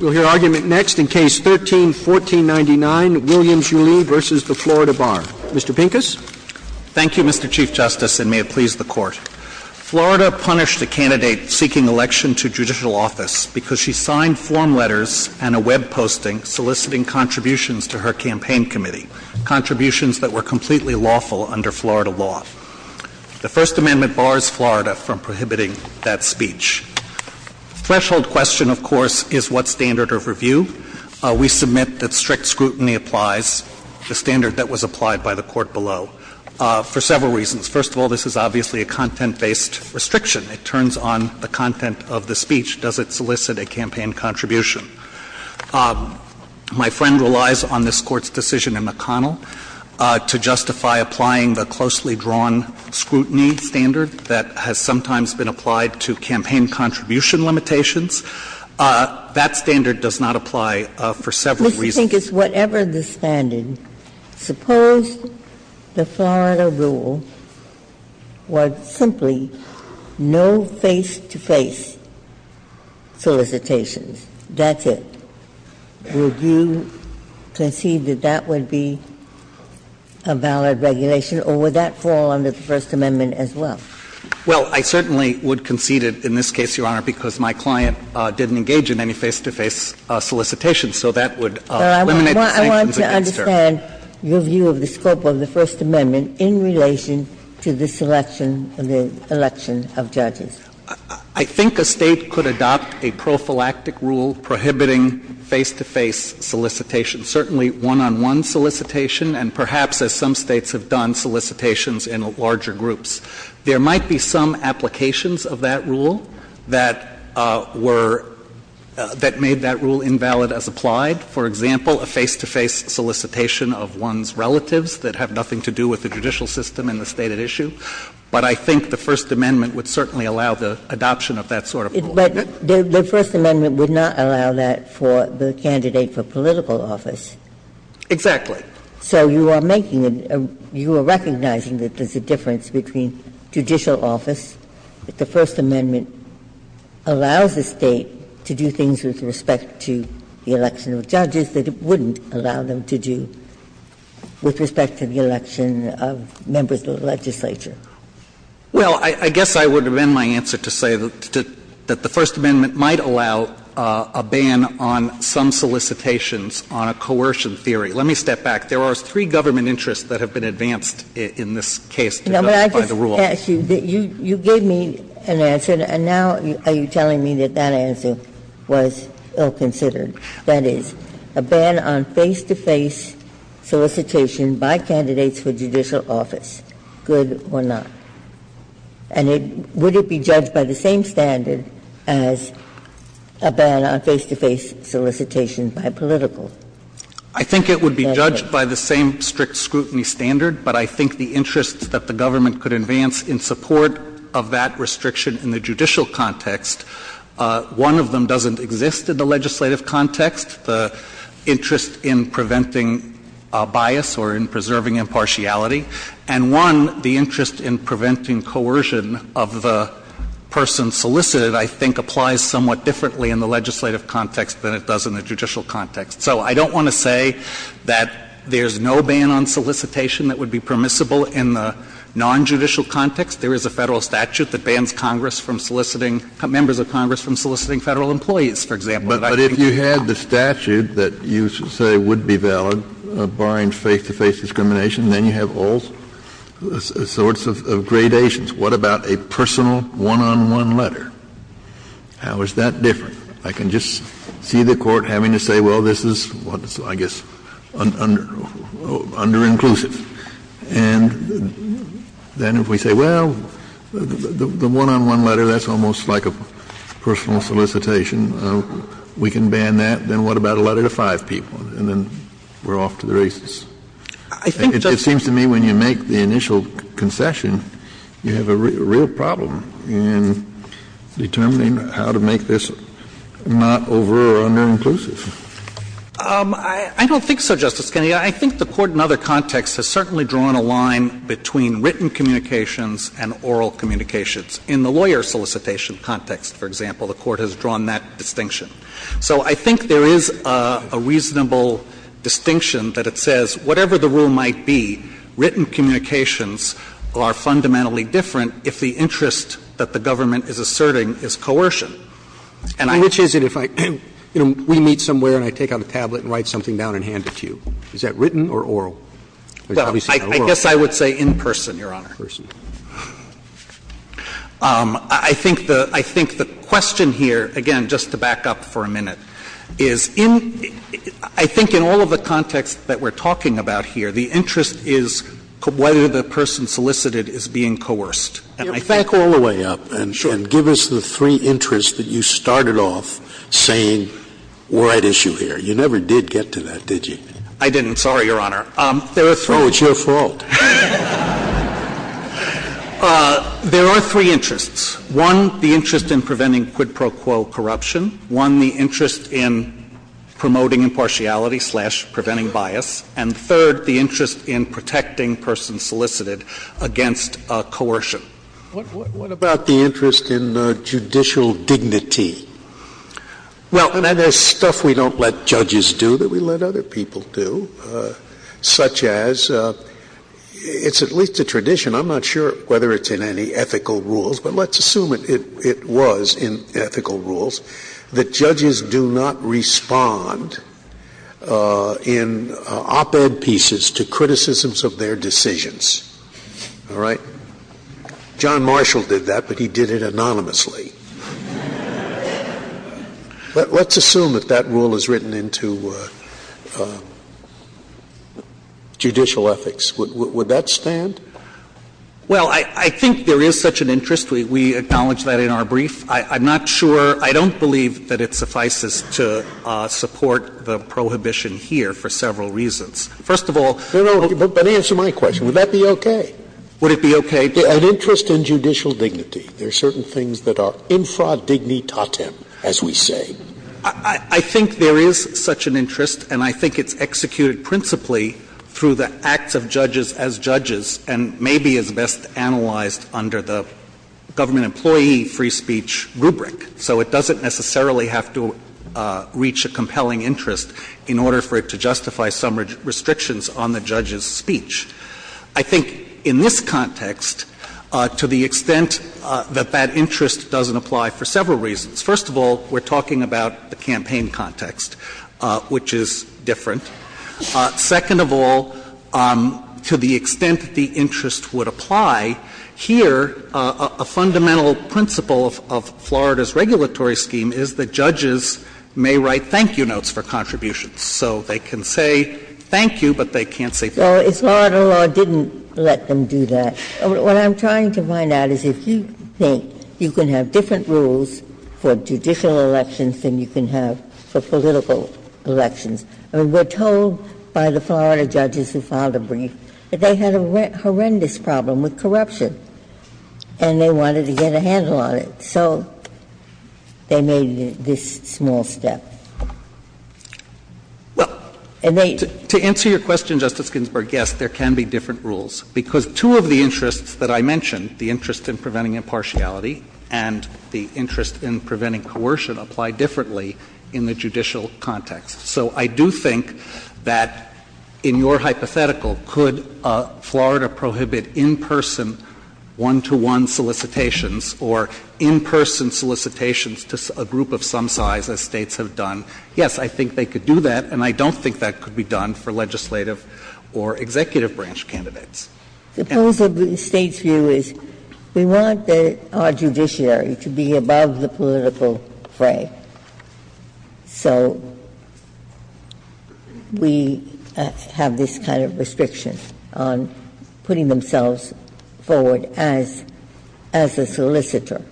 We'll hear argument next in Case 13-1499, Williams-Yulee v. the Florida Bar. Mr. Pincus? Thank you, Mr. Chief Justice, and may it please the Court. Florida punished a candidate seeking election to judicial office because she signed form letters and a web posting soliciting contributions to her campaign committee, contributions that were completely lawful under Florida law. The First Amendment bars Florida from prohibiting that speech. The threshold question, of course, is what standard of review? We submit that strict scrutiny applies the standard that was applied by the Court below for several reasons. First of all, this is obviously a content-based restriction. It turns on the content of the speech. Does it solicit a campaign contribution? My friend relies on this Court's decision in McConnell to justify applying the closely drawn scrutiny standard that has sometimes been applied to campaign contribution limitations. That standard does not apply for several reasons. Mr. Pincus, whatever the standard, suppose the Florida rule was simply no face-to-face solicitations. That's it. Would you conceive that that would be a valid regulation, or would that fall under the First Amendment as well? Well, I certainly would concede it in this case, Your Honor, because my client didn't engage in any face-to-face solicitations. So that would eliminate the sanctions against her. Well, I want to understand your view of the scope of the First Amendment in relation to this election and the election of judges. I think a State could adopt a prophylactic rule prohibiting face-to-face solicitations, certainly one-on-one solicitation and perhaps, as some States have done, solicitations in larger groups. There might be some applications of that rule that were — that made that rule invalid as applied. For example, a face-to-face solicitation of one's relatives that have nothing to do with the judicial system and the State at issue. But I think the First Amendment would certainly allow the adoption of that sort of rule. But the First Amendment would not allow that for the candidate for political office. Exactly. So you are making a — you are recognizing that there's a difference between judicial office, that the First Amendment allows the State to do things with respect to the election of judges, that it wouldn't allow them to do with respect to the election of members of the legislature. Well, I guess I would amend my answer to say that the First Amendment might allow a ban on some solicitations on a coercion theory. Let me step back. There are three government interests that have been advanced in this case by the rule. No, but I just asked you. You gave me an answer, and now are you telling me that that answer was ill-considered? That is, a ban on face-to-face solicitation by candidates for judicial office, good or not? And it — would it be judged by the same standard as a ban on face-to-face solicitation by political? I think it would be judged by the same strict scrutiny standard, but I think the interests that the government could advance in support of that restriction in the judicial context, one of them doesn't exist in the legislative context, the interest in preventing bias or in preserving impartiality, and one, the interest in preventing coercion of the person solicited, I think, applies somewhat differently in the legislative context than it does in the judicial context. So I don't want to say that there's no ban on solicitation that would be permissible in the nonjudicial context. There is a Federal statute that bans Congress from soliciting — members of Congress from soliciting Federal employees, for example, that I can talk about. Kennedy, but if you had the statute that you say would be valid, barring face-to-face discrimination, then you have all sorts of gradations. What about a personal one-on-one letter? How is that different? I can just see the Court having to say, well, this is, I guess, underinclusive. And then if we say, well, the one-on-one letter, that's almost like a personal solicitation, we can ban that. Then what about a letter to five people? And then we're off to the races. It seems to me when you make the initial concession, you have a real problem in determining how to make this not over or underinclusive. I don't think so, Justice Kennedy. I think the Court in other contexts has certainly drawn a line between written communications and oral communications. In the lawyer solicitation context, for example, the Court has drawn that distinction. So I think there is a reasonable distinction that it says whatever the rule might be, written communications are fundamentally different if the interest that the government is asserting is coercion. And I'm going to say that if I, you know, we meet somewhere and I take out a tablet and write something down and hand it to you, is that written or oral? Well, I guess I would say in person, Your Honor. I think the question here, again, just to back up for a minute, is in, I think in all the context that we're talking about here, the interest is whether the person solicited is being coerced. And I think the interest is whether the person solicited is being coerced. Scalia. Back all the way up and give us the three interests that you started off saying were at issue here. You never did get to that, did you? I didn't. Sorry, Your Honor. There are three. Oh, it's your fault. There are three interests. One, the interest in preventing quid pro quo corruption. One, the interest in promoting impartiality slash preventing bias. And third, the interest in protecting persons solicited against coercion. What about the interest in judicial dignity? Well, and there's stuff we don't let judges do that we let other people do, such as it's at least a tradition. I'm not sure whether it's in any ethical rules, but let's assume it was in ethical rules that judges do not respond in op-ed pieces to criticisms of their decisions. All right? John Marshall did that, but he did it anonymously. Let's assume that that rule is written into judicial ethics. Would that stand? Well, I think there is such an interest. We acknowledge that in our brief. I'm not sure — I don't believe that it suffices to support the prohibition here for several reasons. First of all — No, no. But answer my question. Would that be okay? Would it be okay? An interest in judicial dignity. There are certain things that are infra-dignitatem, as we say. I think there is such an interest, and I think it's executed principally through the acts of judges as judges, and maybe is best analyzed under the government employee free speech rubric. So it doesn't necessarily have to reach a compelling interest in order for it to justify some restrictions on the judge's speech. I think in this context, to the extent that that interest doesn't apply for several reasons. First of all, we're talking about the campaign context, which is different. Second of all, to the extent that the interest would apply, here a fundamental principle of Florida's regulatory scheme is that judges may write thank-you notes for contributions. So they can say thank you, but they can't say thank you. Well, it's Florida law didn't let them do that. What I'm trying to find out is if you think you can have different rules for judicial elections than you can have for political elections. We're told by the Florida judges who filed a brief that they had a horrendous problem with corruption. And they wanted to get a handle on it. So they made this small step. And they ---- To answer your question, Justice Ginsburg, yes, there can be different rules. Because two of the interests that I mentioned, the interest in preventing impartiality and the interest in preventing coercion, apply differently in the judicial context. So I do think that in your hypothetical, could Florida prohibit in-person, one-to-one solicitations, or in-person solicitations to a group of some size, as States have done? Yes, I think they could do that, and I don't think that could be done for legislative or executive branch candidates. Ginsburg's view is we want our judiciary to be above the political fray. So we have this kind of restriction on putting themselves forward as a solicitor.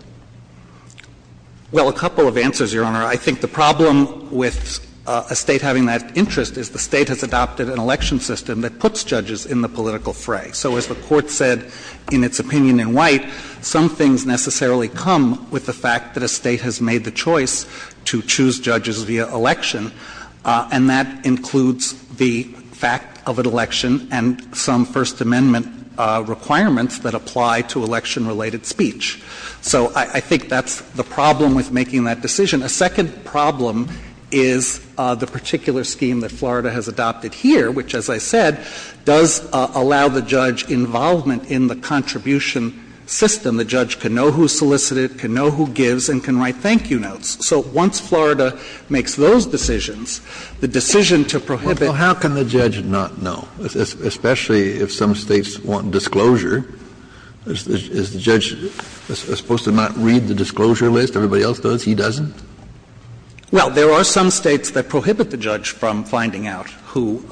Well, a couple of answers, Your Honor. I think the problem with a State having that interest is the State has adopted an election system that puts judges in the political fray. So as the Court said in its opinion in White, some things necessarily come with the choice to choose judges via election, and that includes the fact of an election and some First Amendment requirements that apply to election-related speech. So I think that's the problem with making that decision. A second problem is the particular scheme that Florida has adopted here, which, as I said, does allow the judge involvement in the contribution system. The judge can know who solicited, can know who gives, and can write thank you notes. So once Florida makes those decisions, the decision to prohibit the judge's involvement in the contribution system is not an option. Kennedy. Well, how can the judge not know, especially if some States want disclosure? Is the judge supposed to not read the disclosure list? Everybody else does? He doesn't? Well, there are some States that prohibit the judge from finding out who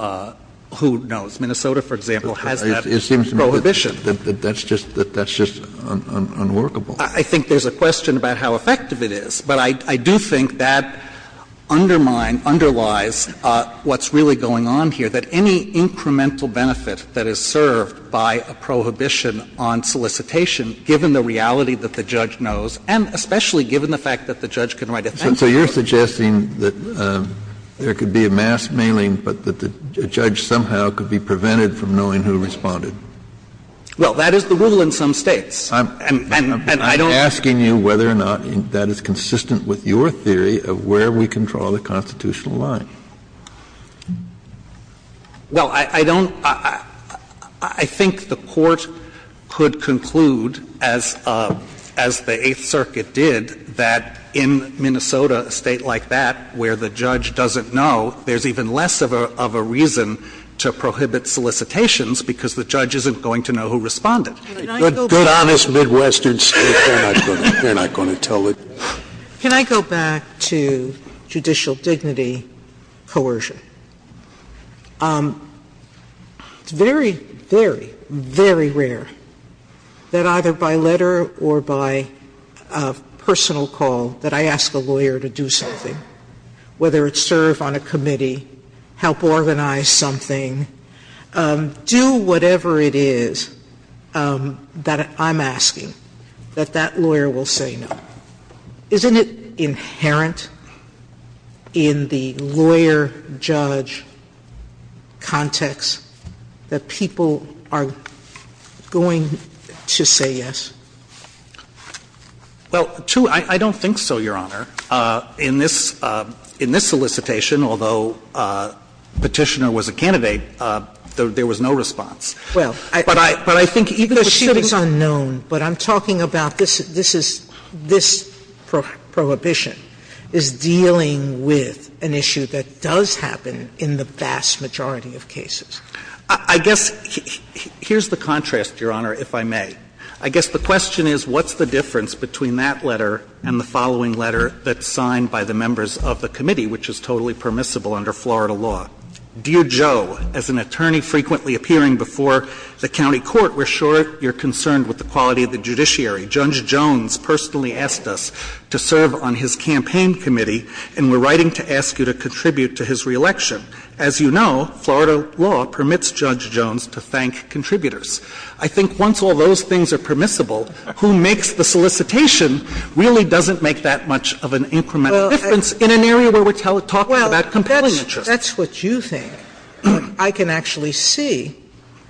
knows. Minnesota, for example, has that prohibition. It seems to me that that's just unworkable. I think there's a question about how effective it is, but I do think that undermines or underlies what's really going on here, that any incremental benefit that is served by a prohibition on solicitation, given the reality that the judge knows, and especially So you're suggesting that there could be a mass mailing, but that the judge somehow could be prevented from knowing who responded. Well, that is the rule in some States. And I don't I'm asking you whether or not that is consistent with your theory of where we can draw the constitutional line. Well, I don't – I think the Court could conclude, as the Eighth Circuit did, that in Minnesota, a State like that, where the judge doesn't know, there's even less of a reason to prohibit solicitations, because the judge isn't going to know who responded. Can I go back? Good, honest, Midwestern State. They're not going to tell it. Can I go back to judicial dignity coercion? It's very, very, very rare that either by letter or by personal call that I ask a lawyer to do something, whether it's serve on a committee, help organize something, do whatever it is that I'm asking, that that lawyer will say no. Isn't it inherent in the lawyer-judge context that people are going to say yes? Well, two, I don't think so, Your Honor. In this solicitation, although Petitioner was a candidate, there was no response. Well, I But I think even for shootings It's unknown, but I'm talking about this prohibition is dealing with an issue that does happen in the vast majority of cases. I guess here's the contrast, Your Honor, if I may. I guess the question is what's the difference between that letter and the following letter that's signed by the members of the committee, which is totally permissible under Florida law? Dear Joe, as an attorney frequently appearing before the county court, we're sure you're concerned with the quality of the judiciary. Judge Jones personally asked us to serve on his campaign committee, and we're writing to ask you to contribute to his reelection. As you know, Florida law permits Judge Jones to thank contributors. I think once all those things are permissible, who makes the solicitation really doesn't make that much of an incremental difference in an area where we're talking about compelling interest. That's what you think. I can actually see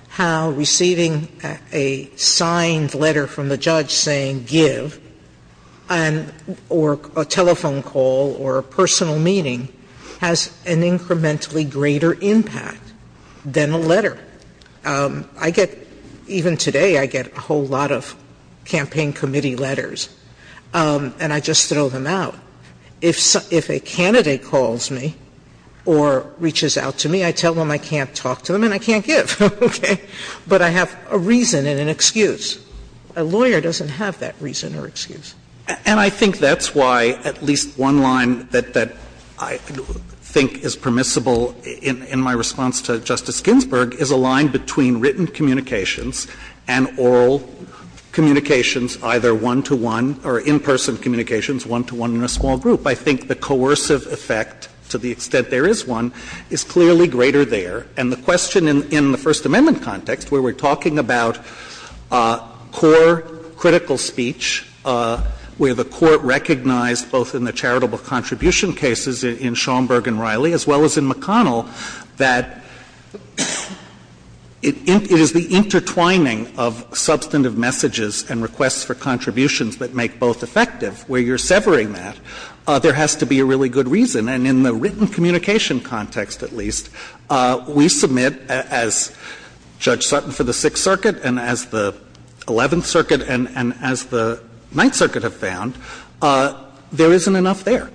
how receiving a signed letter from the judge saying give or a telephone call or a personal meeting has an incrementally greater impact than a letter. I get, even today, I get a whole lot of campaign committee letters, and I just throw them out. If a candidate calls me or reaches out to me, I tell them I can't talk to them and I can't give. Okay? But I have a reason and an excuse. A lawyer doesn't have that reason or excuse. And I think that's why at least one line that I think is permissible in my response to Justice Ginsburg is a line between written communications and oral communications either one-to-one or in-person communications one-to-one in a small group. I think the coercive effect, to the extent there is one, is clearly greater there. And the question in the First Amendment context where we're talking about core critical speech, where the Court recognized both in the charitable contribution cases in Schaumburg and Riley, as well as in McConnell, that it is the intertwining of substantive messages and requests for contributions that make both effective, where you're severing that, there has to be a really good reason. And in the written communication context, at least, we submit, as Judge Sutton for the Sixth Circuit and as the Eleventh Circuit and as the Ninth Circuit have found, there isn't enough there. Alito,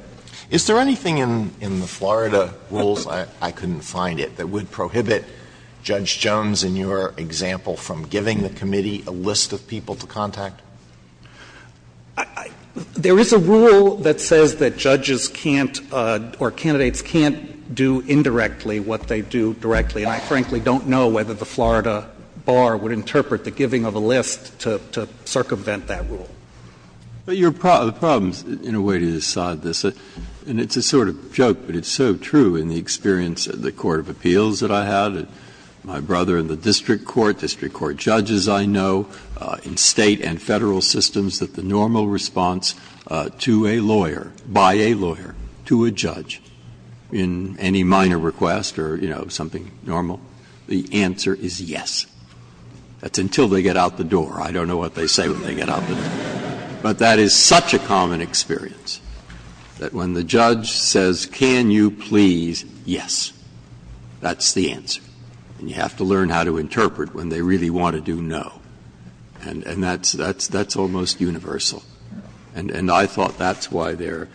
is there anything in the Florida rules, I couldn't find it, that would prohibit Judge Jones in your example from giving the committee a list of people to contact? There is a rule that says that judges can't or candidates can't do indirectly what they do directly, and I frankly don't know whether the Florida bar would interpret the giving of a list to circumvent that rule. Breyer, the problem is, in a way, to this side of this, and it's a sort of joke, but it's so true in the experience of the court of appeals that I had, my brother in the district court, district court judges I know, in State and Federal systems that the normal response to a lawyer, by a lawyer, to a judge in any minor request or, you know, something normal, the answer is yes. That's until they get out the door. I don't know what they say when they get out the door, but that is such a common experience, that when the judge says, can you please, yes, that's the answer. And you have to learn how to interpret when they really want to do no, and that's almost universal. And I thought that's why they're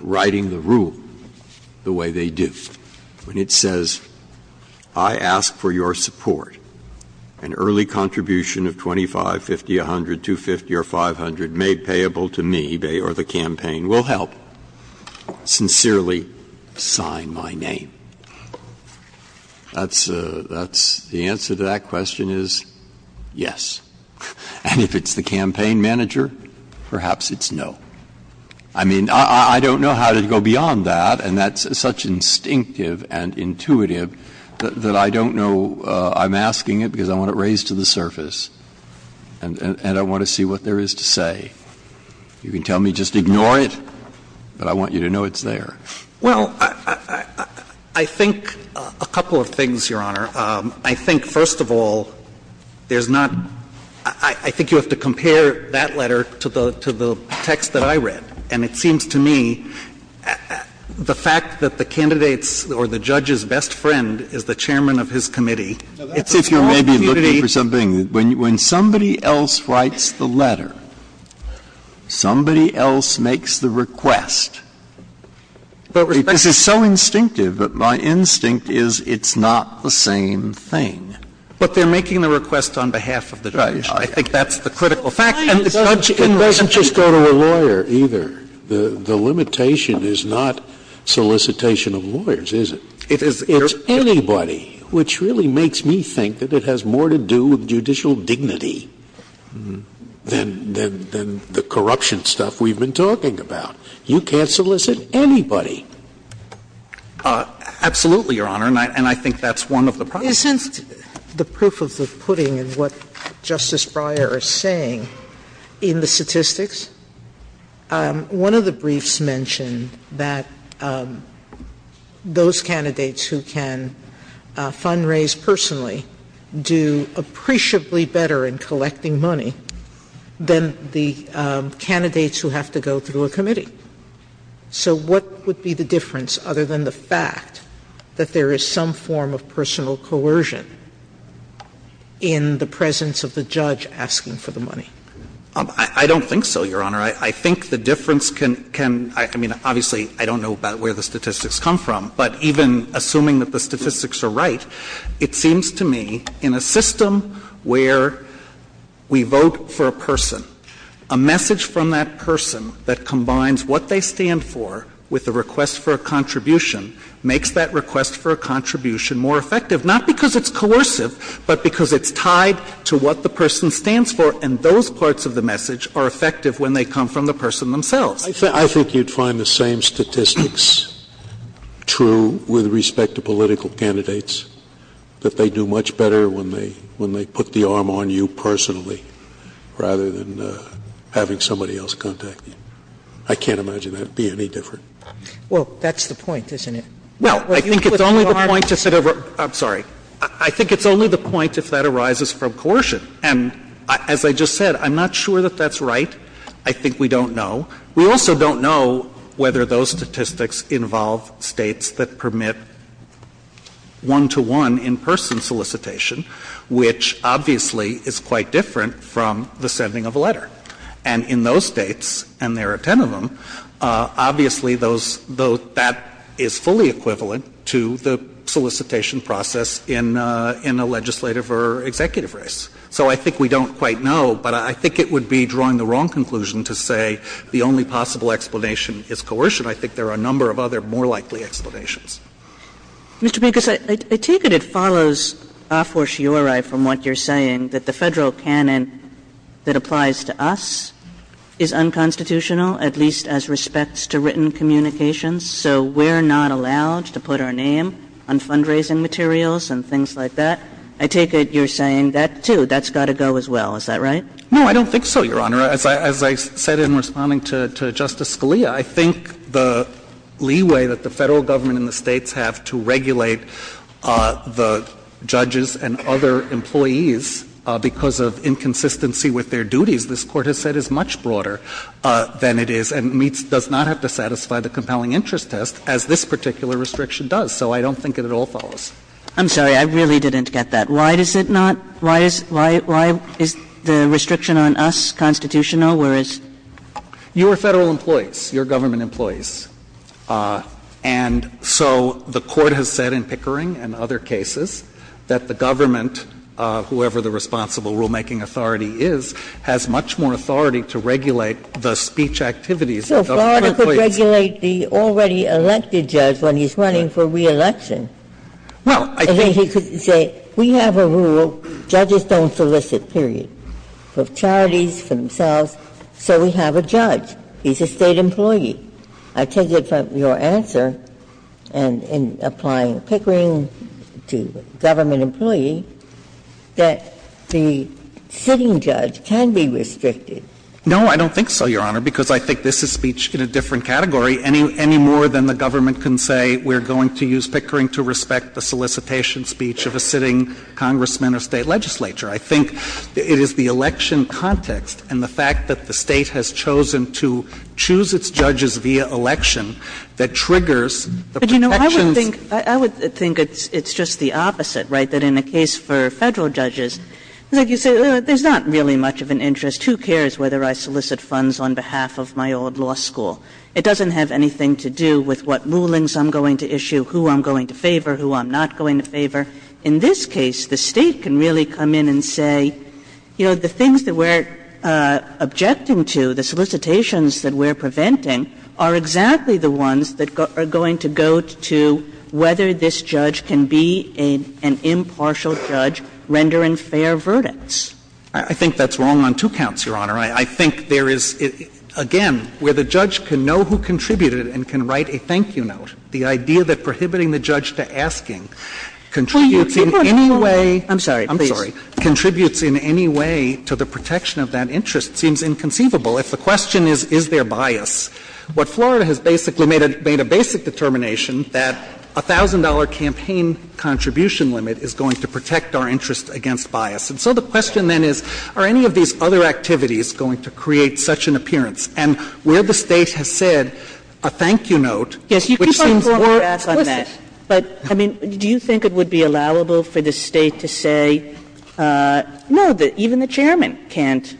writing the rule the way they do. When it says, I ask for your support, an early contribution of 25, 50, 100, 250, or 500 made payable to me or the campaign will help, sincerely sign my name. That's a the answer to that question is yes. And if it's the campaign manager, perhaps it's no. I mean, I don't know how to go beyond that, and that's such instinctive and intuitive that I don't know. I'm asking it because I want it raised to the surface, and I want to see what there is to say. You can tell me just ignore it, but I want you to know it's there. Well, I think a couple of things, Your Honor. I think, first of all, there's not – I think you have to compare that letter to the text that I read, and it seems to me the fact that the candidate's or the judge's best friend is the chairman of his committee, it's a small community. Now, that's if you're maybe looking for something. When somebody else writes the letter, somebody else makes the request, this is so instinctive, but my instinct is it's not the same thing. But they're making the request on behalf of the judge. Right. I think that's the critical fact. And the judge can write a letter. It doesn't just go to a lawyer either. The limitation is not solicitation of lawyers, is it? It is. It's anybody, which really makes me think that it has more to do with judicial dignity than the corruption stuff we've been talking about. You can't solicit anybody. Absolutely, Your Honor, and I think that's one of the problems. Since the proof of the pudding in what Justice Breyer is saying in the statistics, one of the briefs mentioned that those candidates who can fundraise personally do appreciably better in collecting money than the candidates who have to go through a committee. So what would be the difference, other than the fact that there is some form of personal coercion in the presence of the judge asking for the money? I don't think so, Your Honor. I think the difference can — I mean, obviously, I don't know about where the statistics come from, but even assuming that the statistics are right, it seems to me in a system where we vote for a person, a message from that person that combines what they stand for with a request for a contribution makes that request for a contribution more effective, not because it's coercive, but because it's tied to what the person stands for. And those parts of the message are effective when they come from the person themselves. I think you'd find the same statistics true with respect to political candidates, that they do much better when they put the arm on you personally rather than having somebody else contact you. I can't imagine that would be any different. Well, that's the point, isn't it? Well, I think it's only the point to sit over — I'm sorry. I think it's only the point if that arises from coercion. And as I just said, I'm not sure that that's right. I think we don't know. We also don't know whether those statistics involve States that permit one-to-one in-person solicitation, which obviously is quite different from the sending of a letter. And in those States, and there are ten of them, obviously those — that is fully equivalent to the solicitation process in a legislative or executive race. So I think we don't quite know, but I think it would be drawing the wrong conclusion to say the only possible explanation is coercion. I think there are a number of other more likely explanations. Mr. Pincus, I take it it follows a fortiori from what you're saying, that the Federal Government's legal canon that applies to us is unconstitutional, at least as respects to written communications, so we're not allowed to put our name on fundraising materials and things like that. I take it you're saying that, too, that's got to go as well. Is that right? No, I don't think so, Your Honor. As I said in responding to Justice Scalia, I think the leeway that the Federal Government and the States have to regulate the judges and other employees because of inconsistency with their duties, this Court has said is much broader than it is and does not have to satisfy the compelling interest test, as this particular restriction does. So I don't think it at all follows. I'm sorry. I really didn't get that. Why does it not — why is the restriction on us constitutional, whereas — You are Federal employees. You're government employees. And so the Court has said in Pickering and other cases that the government, whoever the responsible rulemaking authority is, has much more authority to regulate the speech activities of Federal employees. So Florida could regulate the already elected judge when he's running for re-election. Well, I think he could say, we have a rule, judges don't solicit, period, for charities, for themselves, so we have a judge. He's a State employee. I take it from your answer in applying Pickering to government employee that the sitting judge can be restricted. No, I don't think so, Your Honor, because I think this is speech in a different category, any more than the government can say we're going to use Pickering to respect the solicitation speech of a sitting congressman or State legislature. I think it is the election context and the fact that the State has chosen to choose its judges via election that triggers the protections. But, you know, I would think it's just the opposite, right, that in a case for Federal judges, like you say, there's not really much of an interest. Who cares whether I solicit funds on behalf of my old law school? It doesn't have anything to do with what rulings I'm going to issue, who I'm going to favor, who I'm not going to favor. In this case, the State can really come in and say, you know, the things that we're objecting to, the solicitations that we're preventing are exactly the ones that are going to go to whether this judge can be an impartial judge rendering fair verdicts. I think that's wrong on two counts, Your Honor. I think there is, again, where the judge can know who contributed and can write a thank you note, the idea that prohibiting the judge to asking contributes in any way to the protection of that interest seems inconceivable if the question is, is there bias? What Florida has basically made a basic determination, that $1,000 campaign contribution limit is going to protect our interest against bias. And so the question then is, are any of these other activities going to create such an appearance? And where the State has said a thank you note, which seems more explicit. Kagan. Kagan. But, I mean, do you think it would be allowable for the State to say, no, even the Chairman can't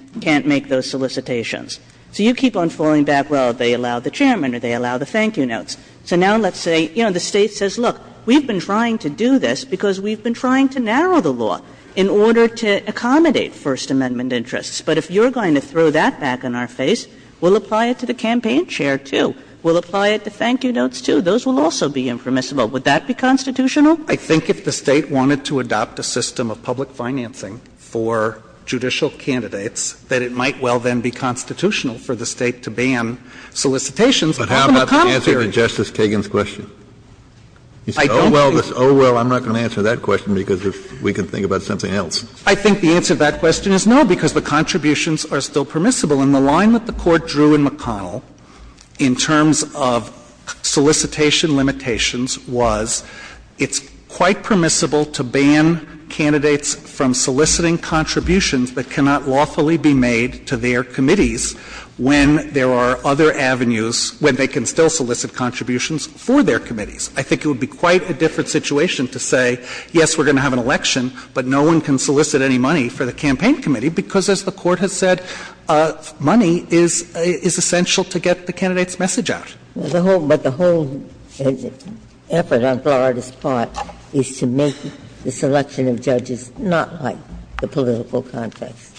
make those solicitations? So you keep on falling back, well, they allow the Chairman or they allow the thank you notes. So now let's say, you know, the State says, look, we've been trying to do this because we've been trying to narrow the law in order to accommodate First Amendment interests. But if you're going to throw that back in our face, we'll apply it to the campaign chair, too. We'll apply it to thank you notes, too. Those will also be impermissible. Would that be constitutional? I think if the State wanted to adopt a system of public financing for judicial candidates, that it might well then be constitutional for the State to ban solicitations of an economy. Kennedy. But how about the answer to Justice Kagan's question? I don't think. You say, oh, well, I'm not going to answer that question because we can think about something else. I think the answer to that question is no, because the contributions are still permissible. And the line that the Court drew in McConnell in terms of solicitation limitations was it's quite permissible to ban candidates from soliciting contributions that cannot lawfully be made to their committees when there are other avenues, when they can still solicit contributions for their committees. I think it would be quite a different situation to say, yes, we're going to have an election, but no one can solicit any money for the campaign committee, because as the Court has said, money is essential to get the candidate's message out. But the whole effort on Florida's part is to make the selection of judges not like the political context.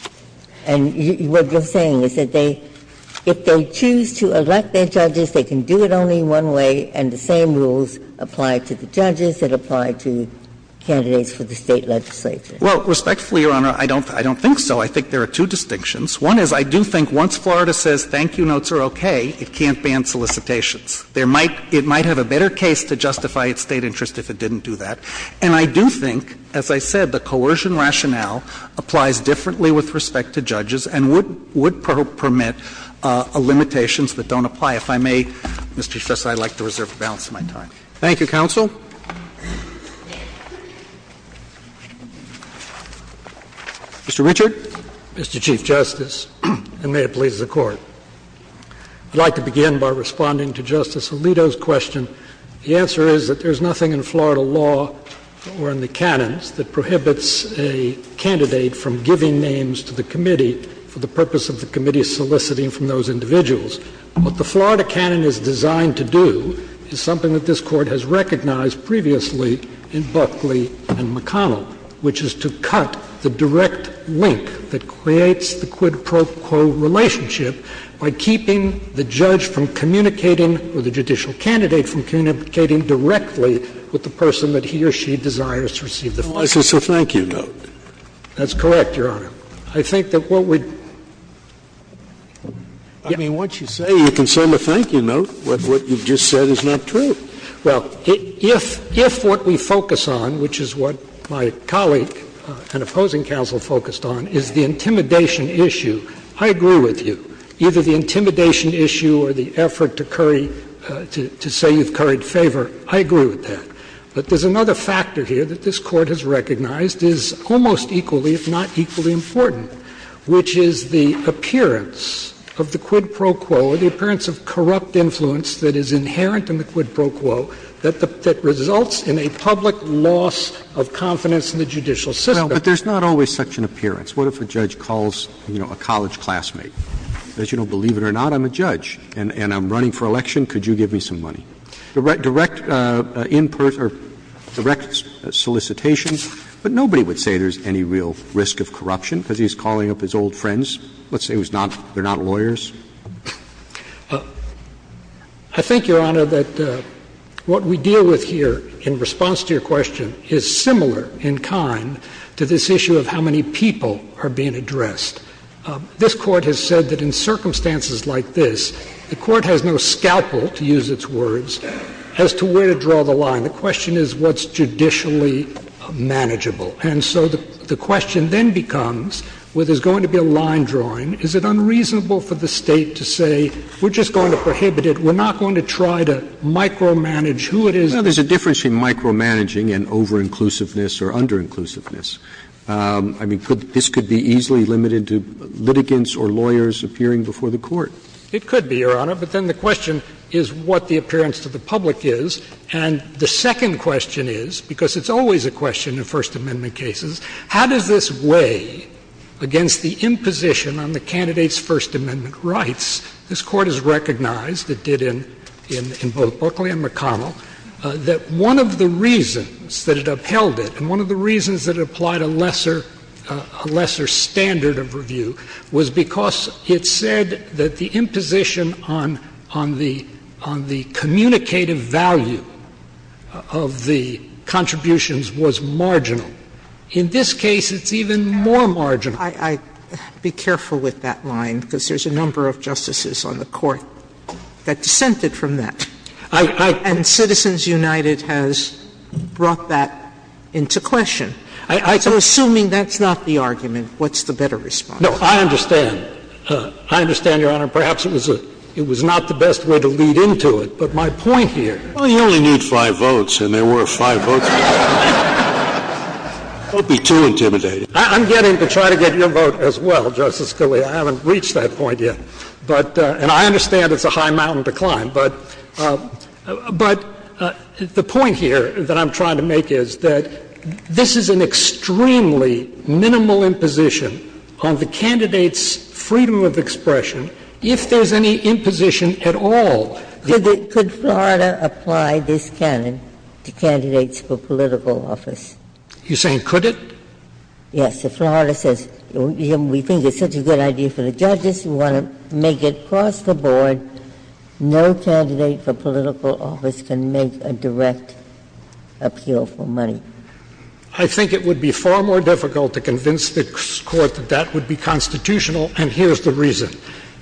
And what you're saying is that if they choose to elect their judges, they can do it only one way, and the same rules apply to the judges that apply to candidates for the State legislature. Well, respectfully, Your Honor, I don't think so. I think there are two distinctions. One is I do think once Florida says thank you notes are okay, it can't ban solicitations. It might have a better case to justify its State interest if it didn't do that. And I do think, as I said, the coercion rationale applies differently with respect to judges and would permit limitations that don't apply. If I may, Mr. Chief Justice, I'd like to reserve the balance of my time. Thank you, counsel. Mr. Richard. Mr. Chief Justice, and may it please the Court. I'd like to begin by responding to Justice Alito's question. The answer is that there's nothing in Florida law or in the canons that prohibits a candidate from giving names to the committee for the purpose of the committee's soliciting from those individuals. What the Florida canon is designed to do is something that this Court has recognized previously in Buckley and McConnell, which is to cut the direct link that creates the quid pro quo relationship by keeping the judge from communicating or the judicial candidate from communicating directly with the person that he or she desires to receive the solicitation. Well, it's just a thank you note. That's correct, Your Honor. Saying you can say I'm a thank you note when what you've just said is not true. Well, if what we focus on, which is what my colleague and opposing counsel focused on, is the intimidation issue, I agree with you. Either the intimidation issue or the effort to curry to say you've curried favor, I agree with that. But there's another factor here that this Court has recognized is almost equally, if not equally, important, which is the appearance of the quid pro quo or the appearance of corrupt influence that is inherent in the quid pro quo that results in a public loss of confidence in the judicial system. Well, but there's not always such an appearance. What if a judge calls, you know, a college classmate? As you know, believe it or not, I'm a judge and I'm running for election. Could you give me some money? Direct input or direct solicitation, but nobody would say there's any real risk of corruption because he's calling up his old friends. Let's say he was not – they're not lawyers. I think, Your Honor, that what we deal with here in response to your question is similar in kind to this issue of how many people are being addressed. This Court has said that in circumstances like this, the Court has no scalpel, to use its words, as to where to draw the line. The question is what's judicially manageable. And so the question then becomes, where there's going to be a line drawing, is it unreasonable for the State to say, we're just going to prohibit it, we're not going to try to micromanage who it is? Now, there's a difference between micromanaging and over-inclusiveness or under-inclusiveness. I mean, this could be easily limited to litigants or lawyers appearing before the Court. It could be, Your Honor. But then the question is what the appearance to the public is. And the second question is, because it's always a question in First Amendment cases, how does this weigh against the imposition on the candidate's First Amendment rights? This Court has recognized, it did in both Buckley and McConnell, that one of the reasons that it upheld it and one of the reasons that it applied a lesser standard of review was because it said that the imposition on the communicative value of the contributions was marginal. In this case, it's even more marginal. Sotomayor, I'd be careful with that line, because there's a number of justices on the Court that dissented from that. And Citizens United has brought that into question. So assuming that's not the argument, what's the better response? No, I understand. I understand, Your Honor. Perhaps it was not the best way to lead into it. But my point here — Well, you only need five votes, and there were five votes. Don't be too intimidated. I'm getting to try to get your vote as well, Justice Scalia. I haven't reached that point yet. But — and I understand it's a high mountain to climb. But the point here that I'm trying to make is that this is an extremely minimal imposition on the candidate's freedom of expression, if there's any imposition at all. Could Florida apply this canon to candidates for political office? You're saying could it? Yes. If Florida says, we think it's such a good idea for the judges, we want to make it across the board, no candidate for political office can make a direct appeal for money. I think it would be far more difficult to convince the Court that that would be constitutional. And here's the reason.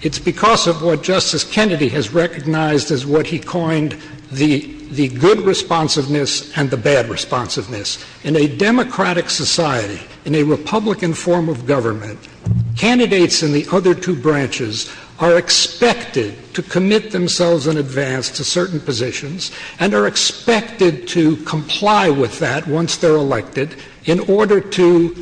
It's because of what Justice Kennedy has recognized as what he coined the good responsiveness and the bad responsiveness. In a democratic society, in a Republican form of government, candidates in the other two branches are expected to commit themselves in advance to certain positions and are expected to comply with that once they're elected in order to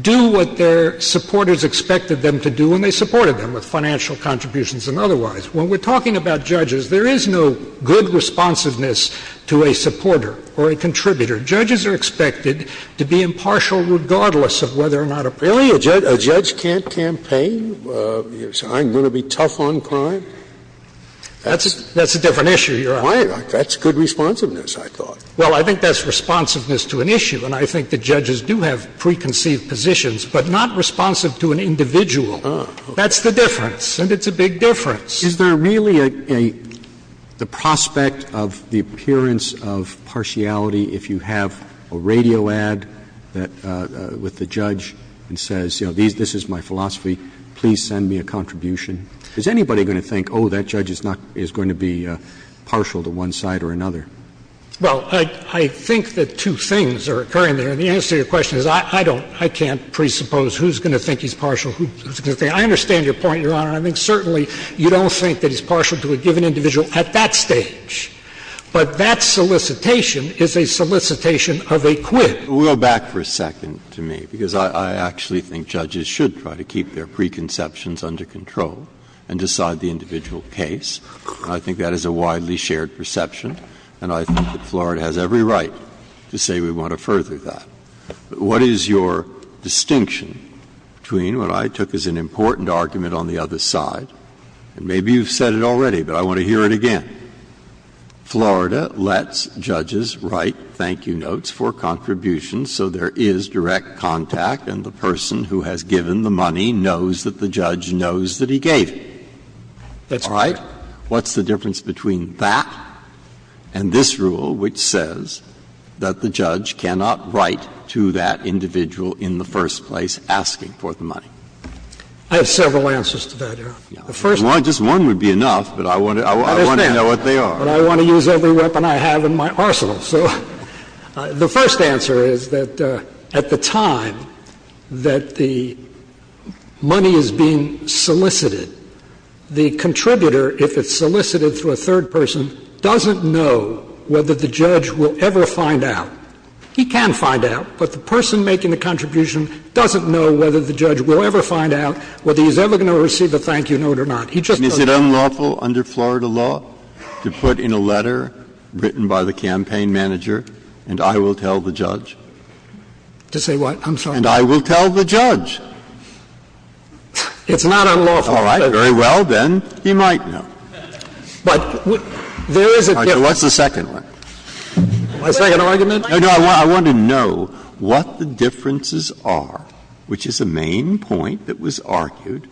do what their supporters expected them to do when they supported them with financial contributions and otherwise. When we're talking about judges, there is no good responsiveness to a supporter or a contributor. Judges are expected to be impartial regardless of whether or not a person is a judge. Really, a judge can't campaign? You're saying I'm going to be tough on crime? That's a different issue, Your Honor. That's good responsiveness, I thought. Well, I think that's responsiveness to an issue, and I think the judges do have preconceived positions, but not responsive to an individual. That's the difference, and it's a big difference. Is there really a prospect of the appearance of partiality if you have a radio ad with the judge that says, you know, this is my philosophy, please send me a contribution? Is anybody going to think, oh, that judge is not going to be partial to one side or another? Well, I think that two things are occurring there. And the answer to your question is I don't, I can't presuppose who's going to think he's partial, who's going to think. I understand your point, Your Honor, and I think certainly you don't think that he's partial to a given individual at that stage. But that solicitation is a solicitation of a quid. We'll go back for a second to me, because I actually think judges should try to keep their preconceptions under control and decide the individual case. I think that is a widely shared perception, and I think that Florida has every right to say we want to further that. But what is your distinction between what I took as an important argument on the other side, and maybe you've said it already, but I want to hear it again. Florida lets judges write thank-you notes for contributions so there is direct contact, and the person who has given the money knows that the judge knows that he gave it, all right? What's the difference between that and this rule, which says that the judge cannot write to that individual in the first place asking for the money? I have several answers to that, Your Honor. The first one is just one would be enough, but I want to know what they are. But I want to use every weapon I have in my arsenal. So the first answer is that at the time that the money is being solicited, the contributor, if it's solicited through a third person, doesn't know whether the judge will ever find out. He can find out, but the person making the contribution doesn't know whether the judge will ever find out whether he's ever going to receive a thank-you note or not. He just doesn't know. Now, is it unlawful under Florida law to put in a letter written by the campaign manager, and I will tell the judge? To say what? I'm sorry. And I will tell the judge. It's not unlawful. All right. Very well. Then he might know. But there is a difference. All right. What's the second one? My second argument? No, no. I want to know what the differences are, which is the main point that was argued,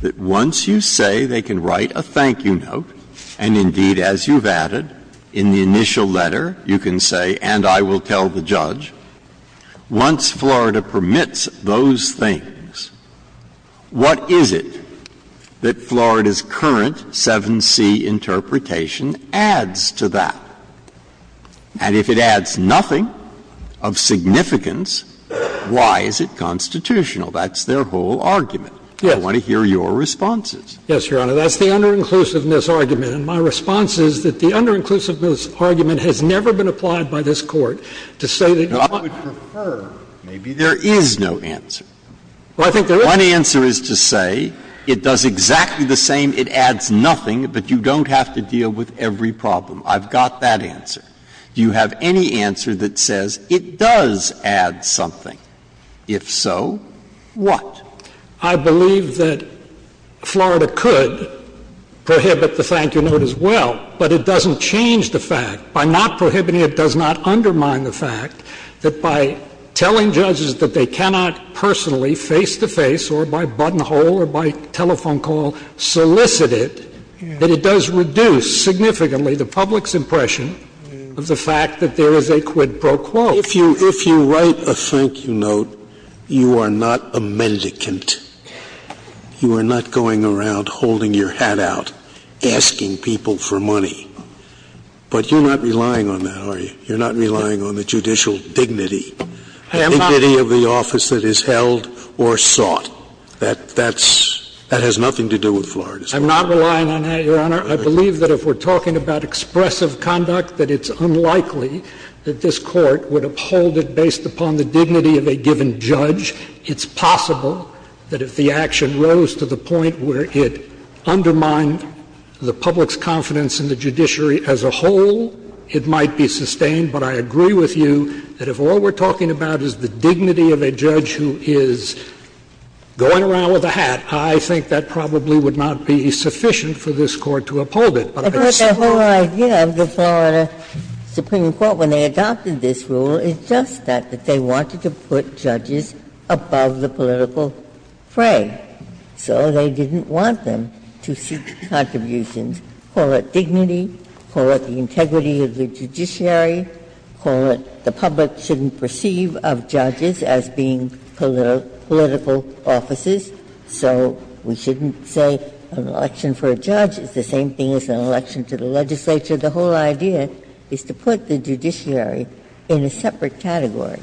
that once you say they can write a thank-you note, and indeed, as you've added, in the initial letter, you can say, and I will tell the judge, once Florida permits those things, what is it that Florida's current 7c interpretation adds to that? And if it adds nothing of significance, why is it constitutional? That's their whole argument. Yes. I want to hear your responses. Yes, Your Honor. That's the under-inclusiveness argument. And my response is that the under-inclusiveness argument has never been applied by this Court to say that you want to refer. Now, I would prefer maybe there is no answer. Well, I think there is. One answer is to say it does exactly the same, it adds nothing, but you don't have to deal with every problem. I've got that answer. Do you have any answer that says it does add something? If so, what? I believe that Florida could prohibit the thank-you note as well, but it doesn't change the fact, by not prohibiting it does not undermine the fact that by telling judges that they cannot personally, face to face or by buttonhole or by telephone call, solicit it, that it does reduce significantly the public's impression of the fact that there is a quid pro quo. If you write a thank-you note, you are not a mendicant. You are not going around holding your hat out, asking people for money. But you're not relying on that, are you? You're not relying on the judicial dignity, the dignity of the office that is held or sought. That's – that has nothing to do with Florida's case. I'm not relying on that, Your Honor. I believe that if we're talking about expressive conduct, that it's unlikely that this Court would uphold it based upon the dignity of a given judge. It's possible that if the action rose to the point where it undermined the public's confidence in the judiciary as a whole, it might be sustained. But I agree with you that if all we're talking about is the dignity of a judge who is going around with a hat, I think that probably would not be sufficient for this Court to uphold it. Ginsburg, I'm going to say one more thing. Ginsburg, I'm going to say one more thing. The whole idea of the Florida Supreme Court, when they adopted this rule, is just that, that they wanted to put judges above the political fray. So they didn't want them to seek contributions, call it dignity, call it the integrity of the judiciary, call it the public shouldn't perceive of judges as being political officers. So we shouldn't say an election for a judge is the same thing as an election to the legislature. The whole idea is to put the judiciary in a separate category.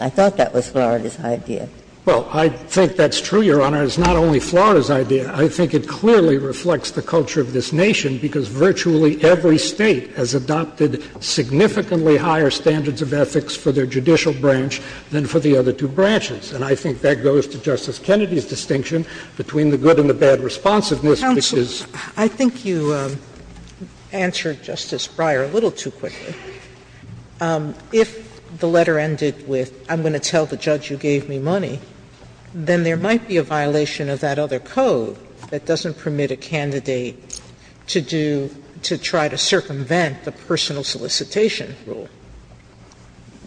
I thought that was Florida's idea. Well, I think that's true, Your Honor. It's not only Florida's idea. I think it clearly reflects the culture of this nation, because virtually every State has adopted significantly higher standards of ethics for their judicial branch than for the other two branches. And I think that goes to Justice Kennedy's distinction between the good and the bad responsiveness, which is the same. Sotomayor, I think you answered Justice Breyer a little too quickly. If the letter ended with, I'm going to tell the judge you gave me money, then there might be a violation of that other code that doesn't permit a candidate to do, to try to circumvent the personal solicitation.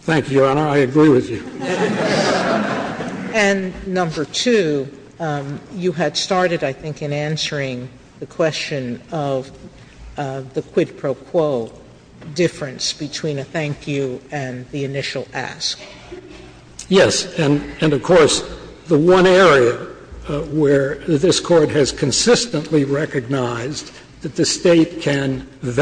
Thank you, Your Honor. I agree with you. And number two, you had started, I think, in answering the question of the quid pro quo difference between a thank you and the initial ask. Yes. And of course, the one area where this Court has consistently recognized that the difference is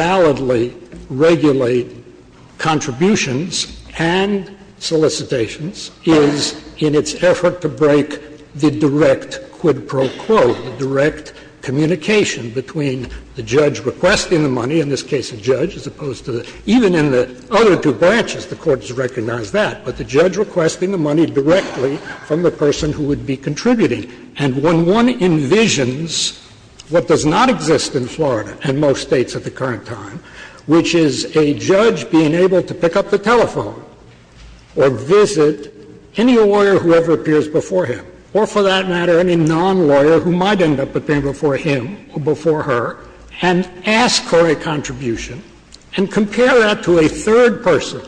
in its effort to break the direct quid pro quo, the direct communication between the judge requesting the money, in this case a judge, as opposed to the other two branches, the Court has recognized that, but the judge requesting the money directly from the person who would be contributing. And when one envisions what does not exist in Florida and most States at the current time, which is a judge being able to pick up the telephone or visit any lawyer who ever appears before him, or for that matter, any non-lawyer who might end up appearing before him or before her, and ask for a contribution, and compare that to a third person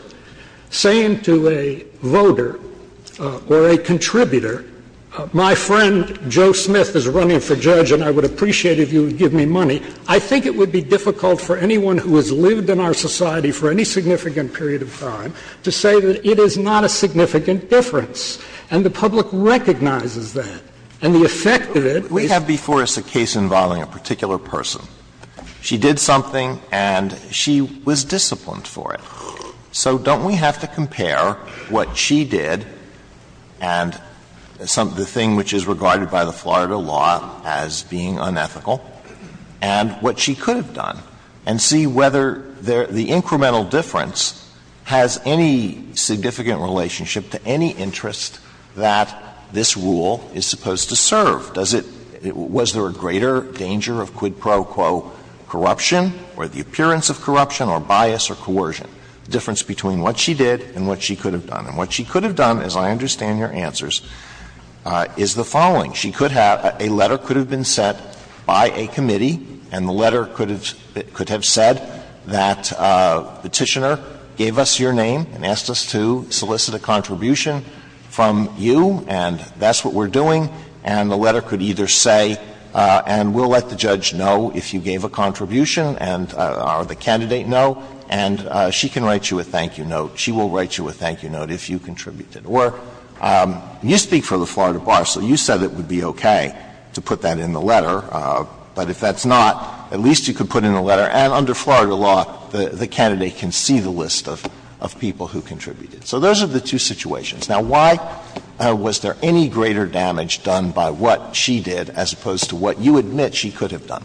saying to a voter or a contributor, my friend Joe Smith is running for judge and I would appreciate if you would give me money, I think it would be difficult for anyone who has lived in our society for any significant period of time to say that it is not a significant difference. And the public recognizes that. And the effect of it is the same. Alito We have before us a case involving a particular person. She did something and she was disciplined for it. So don't we have to compare what she did and the thing which is regarded by the Florida law as being unethical, and what she could have done, and see whether the incremental difference has any significant relationship to any interest that this rule is supposed to serve? Does it — was there a greater danger of quid pro quo corruption or the appearance of corruption or bias or coercion, the difference between what she did and what she could have done? And what she could have done, as I understand your answers, is the following. She could have — a letter could have been sent by a committee, and the letter could have said that Petitioner gave us your name and asked us to solicit a contribution from you, and that's what we're doing. And the letter could either say, and we'll let the judge know if you gave a contribution and — or the candidate know, and she can write you a thank-you note. She will write you a thank-you note if you contributed. Or you speak for the Florida Bar, so you said it would be okay to put that in the letter, but if that's not, at least you could put in a letter. And under Florida law, the candidate can see the list of people who contributed. So those are the two situations. Now, why was there any greater damage done by what she did as opposed to what you admit she could have done?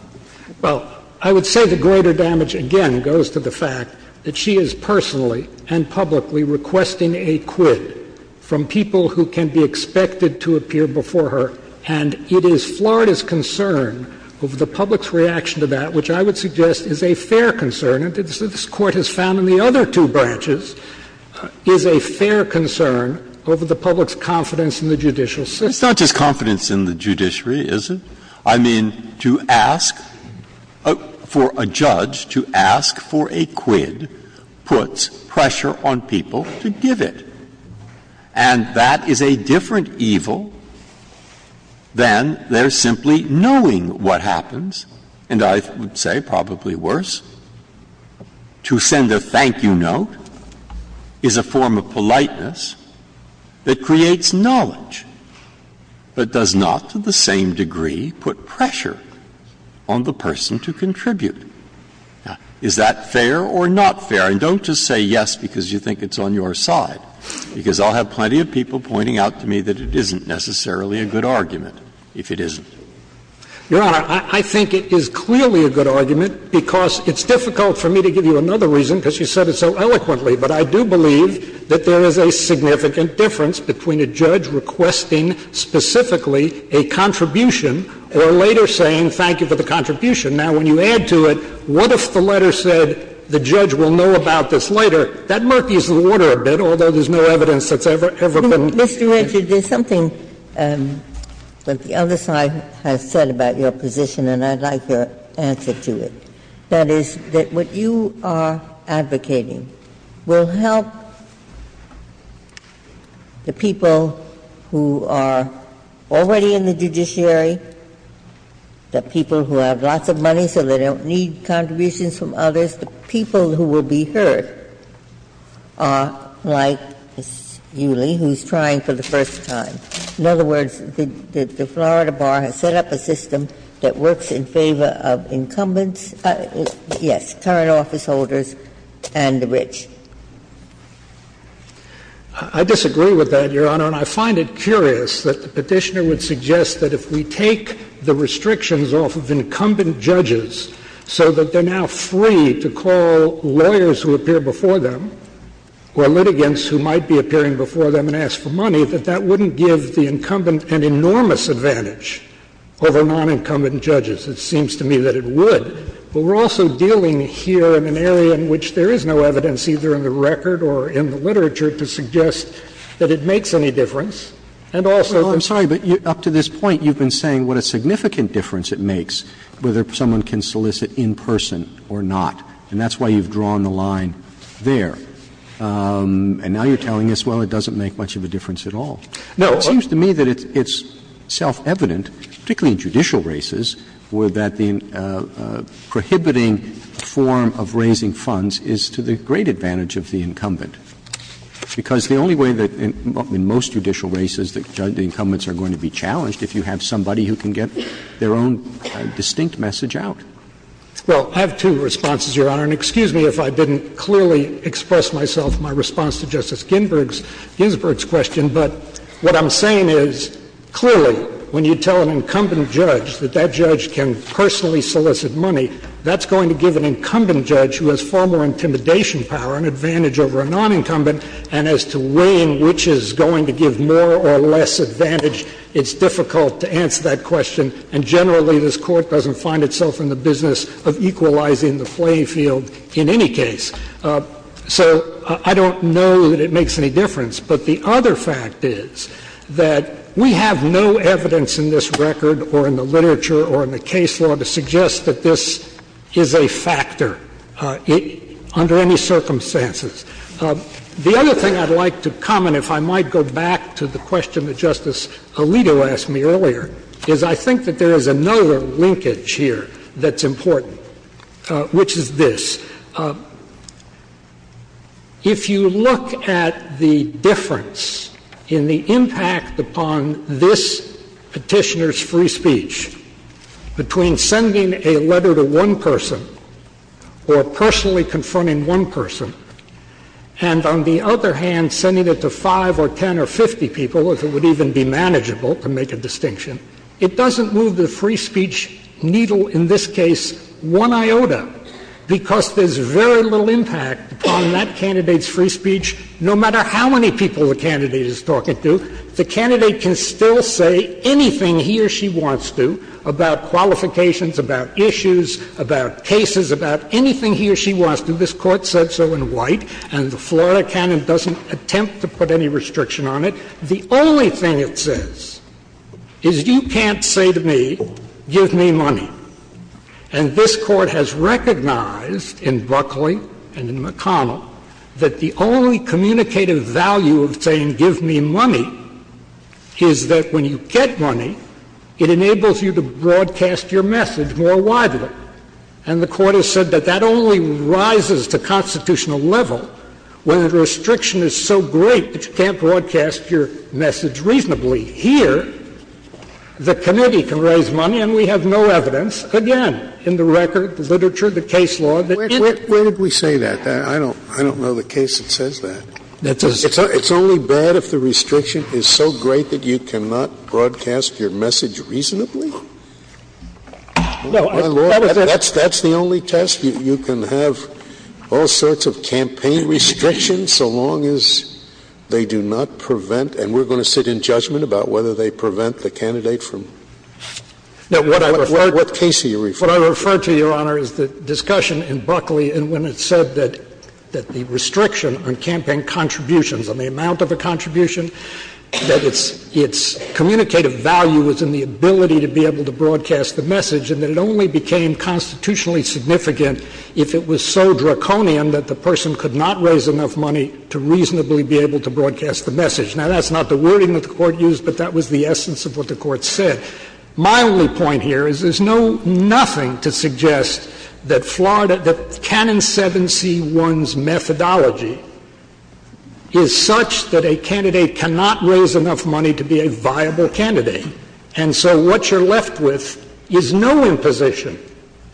Well, I would say the greater damage, again, goes to the fact that she is personally and publicly requesting a quid from people who can be expected to appear before her, and it is Florida's concern over the public's reaction to that, which I would suggest is a fair concern, and this Court has found in the other two branches, is a fair concern over the public's confidence in the judicial system. It's not just confidence in the judiciary, is it? I mean, to ask for a judge, to ask for a quid, puts pressure on people to give it. And that is a different evil than their simply knowing what happens, and I would say probably worse. To send a thank-you note is a form of politeness that creates knowledge, but does not, to the same degree, put pressure on the person to contribute. Now, is that fair or not fair? And don't just say yes because you think it's on your side, because I'll have plenty of people pointing out to me that it isn't necessarily a good argument if it isn't. Your Honor, I think it is clearly a good argument because it's difficult for me to give you another reason because you said it so eloquently, but I do believe that there is a significant difference between a judge requesting specifically a contribution or later saying thank you for the contribution. Now, when you add to it, what if the letter said the judge will know about this later? That murkies the water a bit, although there's no evidence that's ever been used. Ginsburg-Gilmour, Mr. Richard, there's something that the other side has said about your position, and I'd like your answer to it, that is that what you are advocating will help the people who are already in the judiciary, the people who have lots of money so they don't need contributions from others, the people who will be heard are like Ms. Ewley, who's trying for the first time. In other words, the Florida Bar has set up a system that works in favor of incumbents Yes, current officeholders and the rich. I disagree with that, Your Honor, and I find it curious that the Petitioner would suggest that if we take the restrictions off of incumbent judges so that they are now free to call lawyers who appear before them or litigants who might be appearing before them and ask for money, that that wouldn't give the incumbent an enormous advantage over non-incumbent judges. It seems to me that it would. But we're also dealing here in an area in which there is no evidence, either in the record or in the literature, to suggest that it makes any difference, and also that Well, I'm sorry, but up to this point you've been saying what a significant difference it makes whether someone can solicit in person or not, and that's why you've drawn the line there. And now you're telling us, well, it doesn't make much of a difference at all. No. It seems to me that it's self-evident, particularly in judicial races, that the prohibiting form of raising funds is to the great advantage of the incumbent, because the only way that in most judicial races the incumbents are going to be challenged if you have somebody who can get their own distinct message out. Well, I have two responses, Your Honor. And excuse me if I didn't clearly express myself in my response to Justice Ginsburg's question, but what I'm saying is, clearly, when you tell an incumbent judge that that judge can personally solicit money, that's going to give an incumbent judge who has far more intimidation power an advantage over a nonincumbent, and as to weighing which is going to give more or less advantage, it's difficult to answer that question. And generally, this Court doesn't find itself in the business of equalizing the playing field in any case. So I don't know that it makes any difference. But the other fact is that we have no evidence in this record or in the literature or in the case law to suggest that this is a factor under any circumstances. The other thing I'd like to comment, if I might go back to the question that Justice Alito asked me earlier, is I think that there is another linkage here that's important, which is this. If you look at the difference in the impact upon this Petitioner's free speech between sending a letter to one person or personally confronting one person and, on the other hand, sending it to 5 or 10 or 50 people, if it would even be manageable, to make a distinction, it doesn't move the free speech needle in this case one iota because there's very little impact on that candidate's free speech, no matter how many people the candidate is talking to. The candidate can still say anything he or she wants to about qualifications, about issues, about cases, about anything he or she wants to. This Court said so in White, and the Florida canon doesn't attempt to put any restriction on it. The only thing it says is you can't say to me, give me money. And this Court has recognized in Buckley and in McConnell that the only communicative value of saying, give me money, is that when you get money, it enables you to broadcast your message more widely. And the Court has said that that only rises to constitutional level when the restriction is so great that you can't broadcast your message reasonably. And we have no evidence, again, in the record, the literature, the case law, that it's the only test that you can have all sorts of campaign restrictions so long as they do not prevent, and we're going to sit in judgment about that, but it's the reasonably. Now, what I refer to, Your Honor, is the discussion in Buckley and when it said that the restriction on campaign contributions on the amount of a contribution, that its communicative value was in the ability to be able to broadcast the message, and that it only became constitutionally significant if it was so draconian that the person could not raise enough money to reasonably be able to broadcast the message. Now, that's not the wording that the Court used, but that was the essence of what the Court said. My only point here is there's no nothing to suggest that Florida — that Canon 7C1's methodology is such that a candidate cannot raise enough money to be a viable candidate, and so what you're left with is no imposition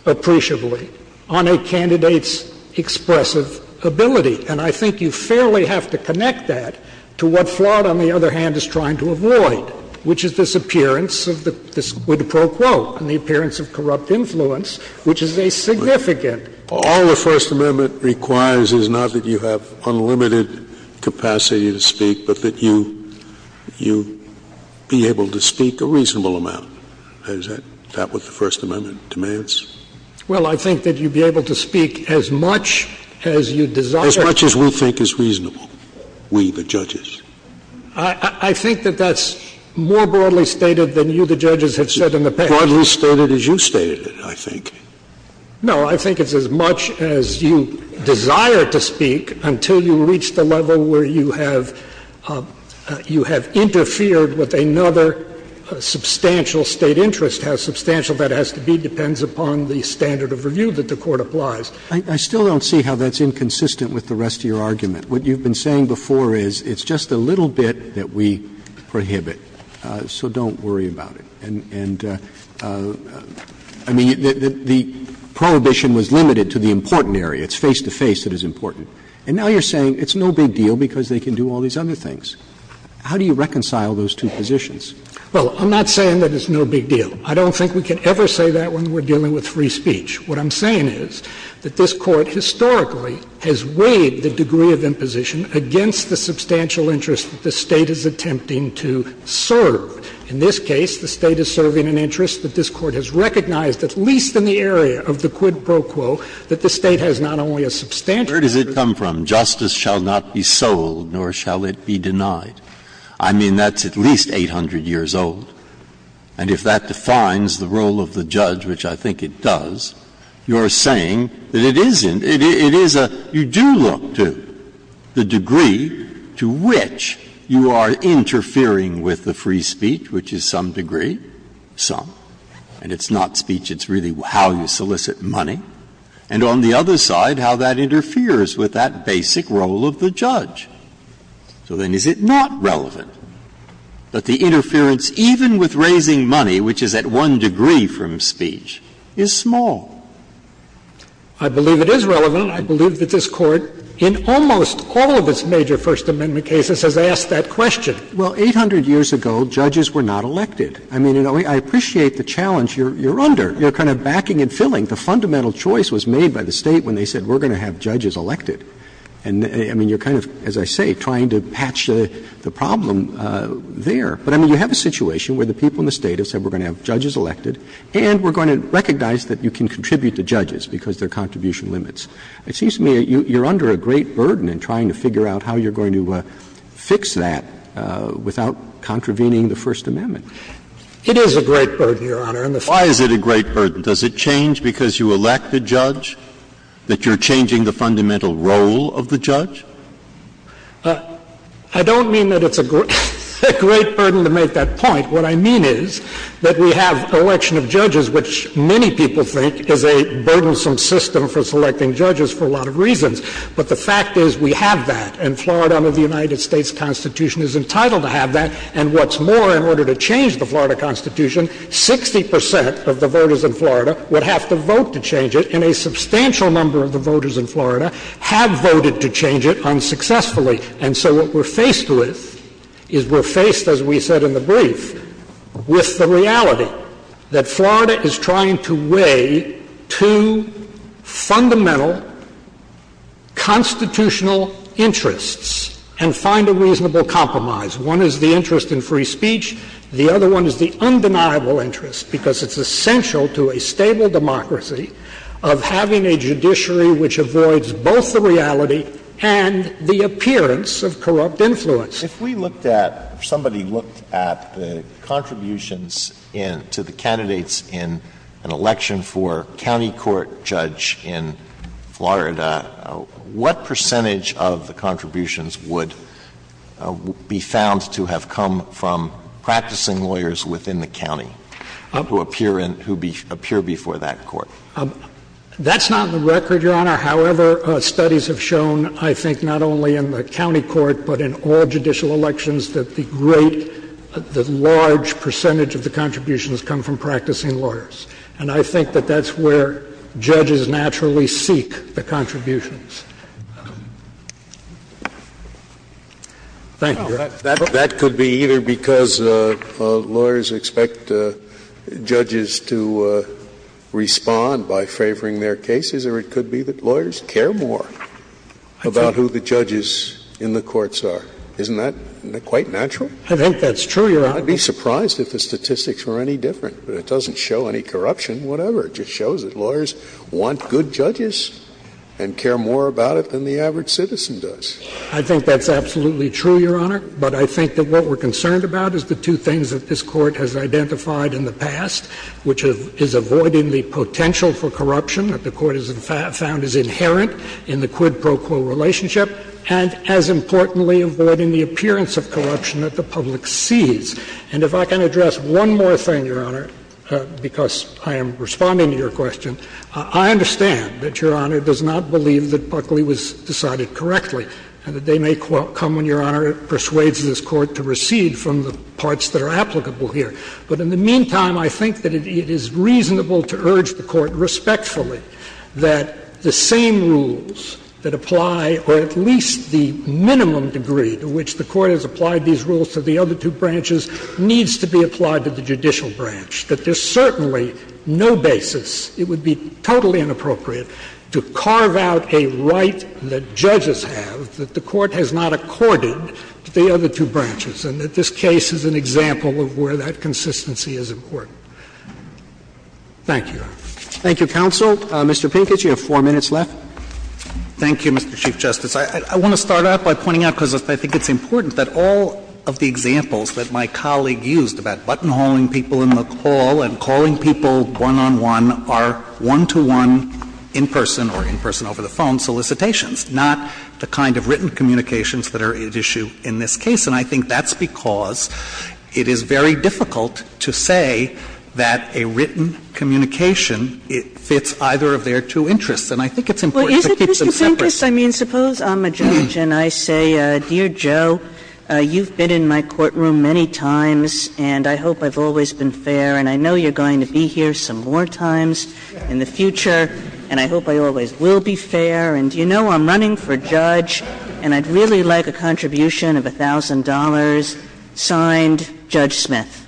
appreciably on a candidate's expressive ability, and I think you fairly have to connect that to what Florida has done in the other hand is trying to avoid, which is this appearance of the — this quid pro quo and the appearance of corrupt influence, which is a significant — Scalia. All the First Amendment requires is not that you have unlimited capacity to speak, but that you — you be able to speak a reasonable amount. Is that — is that what the First Amendment demands? Well, I think that you be able to speak as much as you desire — As much as we think is reasonable, we, the judges. I think that that's more broadly stated than you, the judges, have said in the past. Broadly stated as you stated it, I think. No, I think it's as much as you desire to speak until you reach the level where you have — you have interfered with another substantial State interest. How substantial that has to be depends upon the standard of review that the Court applies. I still don't see how that's inconsistent with the rest of your argument. What you've been saying before is it's just a little bit that we prohibit, so don't worry about it. And — and I mean, the — the prohibition was limited to the important area. It's face-to-face that is important. And now you're saying it's no big deal because they can do all these other things. How do you reconcile those two positions? Well, I'm not saying that it's no big deal. I don't think we can ever say that when we're dealing with free speech. What I'm saying is that this Court historically has weighed the degree of imposition against the substantial interest that the State is attempting to serve. In this case, the State is serving an interest that this Court has recognized, at least in the area of the quid pro quo, that the State has not only a substantial interest— Where does it come from? Justice shall not be sold, nor shall it be denied. I mean, that's at least 800 years old. And if that defines the role of the judge, which I think it does, you're saying that it isn't. It is a — you do look to the degree to which you are interfering with the free speech, which is some degree, some, and it's not speech. It's really how you solicit money. And on the other side, how that interferes with that basic role of the judge. So then is it not relevant that the interference, even with raising money, which is at one degree from speech, is small? I believe it is relevant. I believe that this Court, in almost all of its major First Amendment cases, has asked that question. Well, 800 years ago, judges were not elected. I mean, you know, I appreciate the challenge you're under. You're kind of backing and filling. The fundamental choice was made by the State when they said we're going to have judges elected. And, I mean, you're kind of, as I say, trying to patch the problem there. But, I mean, you have a situation where the people in the State have said we're going to have judges elected, and we're going to recognize that you can contribute to judges because there are contribution limits. It seems to me you're under a great burden in trying to figure out how you're going to fix that without contravening the First Amendment. It is a great burden, Your Honor. Why is it a great burden? Does it change because you elect a judge? That you're changing the fundamental role of the judge? I don't mean that it's a great burden to make that point. What I mean is that we have an election of judges, which many people think is a burdensome system for selecting judges for a lot of reasons. But the fact is we have that. And Florida, under the United States Constitution, is entitled to have that. And what's more, in order to change the Florida Constitution, 60 percent of the people in Florida would have to vote to change it. And a substantial number of the voters in Florida have voted to change it unsuccessfully. And so what we're faced with is we're faced, as we said in the brief, with the reality that Florida is trying to weigh two fundamental constitutional interests and find a reasonable compromise. One is the interest in free speech. The other one is the undeniable interest, because it's essential to a stable democracy, of having a judiciary which avoids both the reality and the appearance of corrupt influence. If we looked at or somebody looked at the contributions to the candidates in an election for county court judge in Florida, what percentage of the contributions would be found to have come from practicing lawyers within the county who appear before that court? That's not on the record, Your Honor. However, studies have shown, I think, not only in the county court, but in all judicial elections, that the great, the large percentage of the contributions come from practicing lawyers. And I think that that's where judges naturally seek the contributions. Thank you, Your Honor. That could be either because lawyers expect judges to respond by favoring their cases, or it could be that lawyers care more about who the judges in the courts are. Isn't that quite natural? I think that's true, Your Honor. I'd be surprised if the statistics were any different. But it doesn't show any corruption, whatever. It just shows that lawyers want good judges and care more about it than the average citizen does. I think that's absolutely true, Your Honor. But I think that what we're concerned about is the two things that this Court has identified in the past, which is avoiding the potential for corruption that the Court has found is inherent in the quid pro quo relationship, and as importantly, avoiding the appearance of corruption that the public sees. And if I can address one more thing, Your Honor, because I am responding to your question, I understand that Your Honor does not believe that Buckley was decided correctly, and that they may come when Your Honor persuades this Court to recede from the parts that are applicable here. But in the meantime, I think that it is reasonable to urge the Court respectfully that the same rules that apply, or at least the minimum degree to which the Court has applied these rules to the other two branches, needs to be applied to the judicial branch, that there's certainly no basis, it would be totally inappropriate to carve out a right that judges have that the Court has not accorded to the other two branches, and that this case is an example of where that consistency is important. Thank you, Your Honor. Thank you, counsel. Mr. Pincus, you have four minutes left. Thank you, Mr. Chief Justice. I want to start out by pointing out, because I think it's important, that all of the examples that my colleague used about buttonholing people in the call and calling people one-on-one are one-to-one in-person or in-person over the phone solicitations, not the kind of written communications that are at issue in this case. And I think that's because it is very difficult to say that a written communication fits either of their two interests. And I think it's important to keep them separate. Justice, I mean, suppose I'm a judge and I say, dear Joe, you've been in my courtroom many times, and I hope I've always been fair, and I know you're going to be here some more times in the future, and I hope I always will be fair, and, you know, I'm running for judge, and I'd really like a contribution of $1,000. Signed, Judge Smith.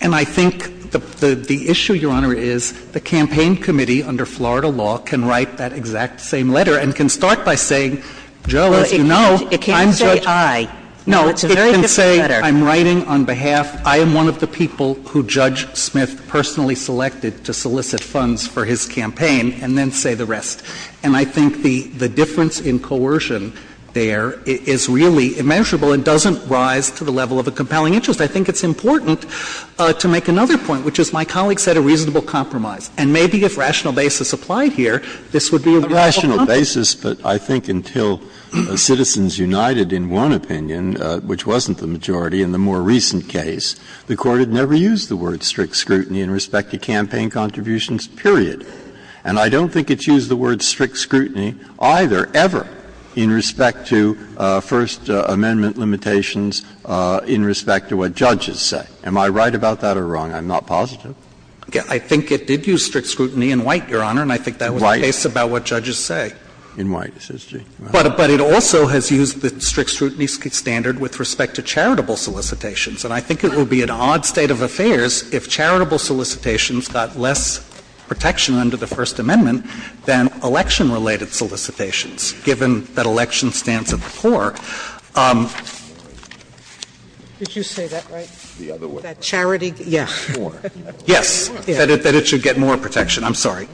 And I think the issue, Your Honor, is the campaign committee under Florida law can write that exact same letter and can start by saying, Joe, as you know, I'm judge It can't say I. No, it can say I'm writing on behalf, I am one of the people who Judge Smith personally selected to solicit funds for his campaign, and then say the rest. And I think the difference in coercion there is really immeasurable and doesn't rise to the level of a compelling interest. I think it's important to make another point, which is my colleague said a reasonable And maybe if rational basis applied here, this would be a reasonable compromise. A rational basis, but I think until Citizens United in one opinion, which wasn't the majority in the more recent case, the Court had never used the word strict scrutiny in respect to campaign contributions, period. And I don't think it's used the word strict scrutiny either, ever, in respect to First Amendment limitations, in respect to what judges say. Am I right about that or wrong? I'm not positive. I think it did use strict scrutiny in White, Your Honor. And I think that was the case about what judges say. In White. But it also has used the strict scrutiny standard with respect to charitable solicitations. And I think it would be an odd state of affairs if charitable solicitations got less protection under the First Amendment than election-related solicitations, given that election stands at the core. Did you say that right? The other way. That charity? Yeah. Yes, that it should get more protection. I'm sorry.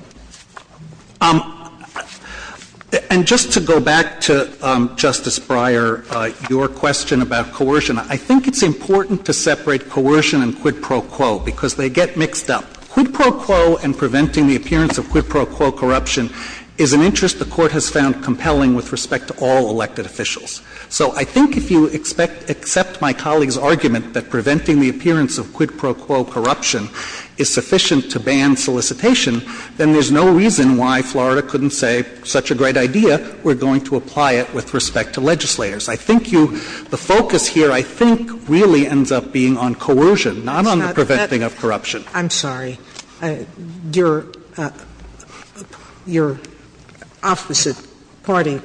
And just to go back to Justice Breyer, your question about coercion, I think it's important to separate coercion and quid pro quo because they get mixed up. Quid pro quo and preventing the appearance of quid pro quo corruption is an interest the Court has found compelling with respect to all elected officials. So I think if you accept my colleague's argument that preventing the appearance of quid pro quo corruption is sufficient to ban solicitation, then there's no reason why Florida couldn't say, such a great idea, we're going to apply it with respect to legislators. I think you the focus here, I think, really ends up being on coercion, not on the preventing of corruption. I'm sorry. Your opposite party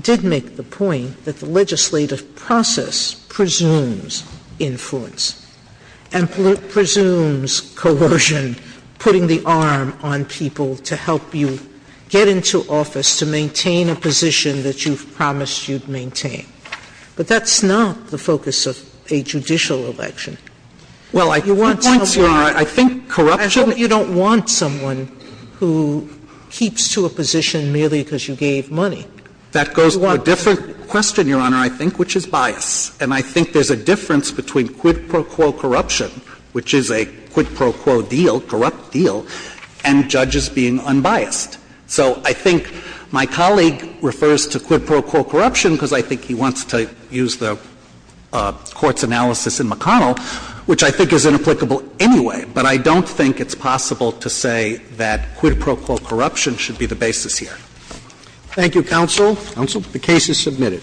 did make the point that the legislative process presumes influence and presumes coercion, putting the arm on people to help you get into office, to maintain a position that you've promised you'd maintain. But that's not the focus of a judicial election. Well, I think corruption... I hope you don't want someone who keeps to a position merely because you gave money. That goes to a different question, Your Honor, I think, which is bias. And I think there's a difference between quid pro quo corruption, which is a quid pro quo deal, corrupt deal, and judges being unbiased. So I think my colleague refers to quid pro quo corruption because I think he wants to use the Court's analysis in McConnell, which I think is inapplicable anyway. But I don't think it's possible to say that quid pro quo corruption should be the basis here. Thank you, counsel. Counsel. The case is submitted.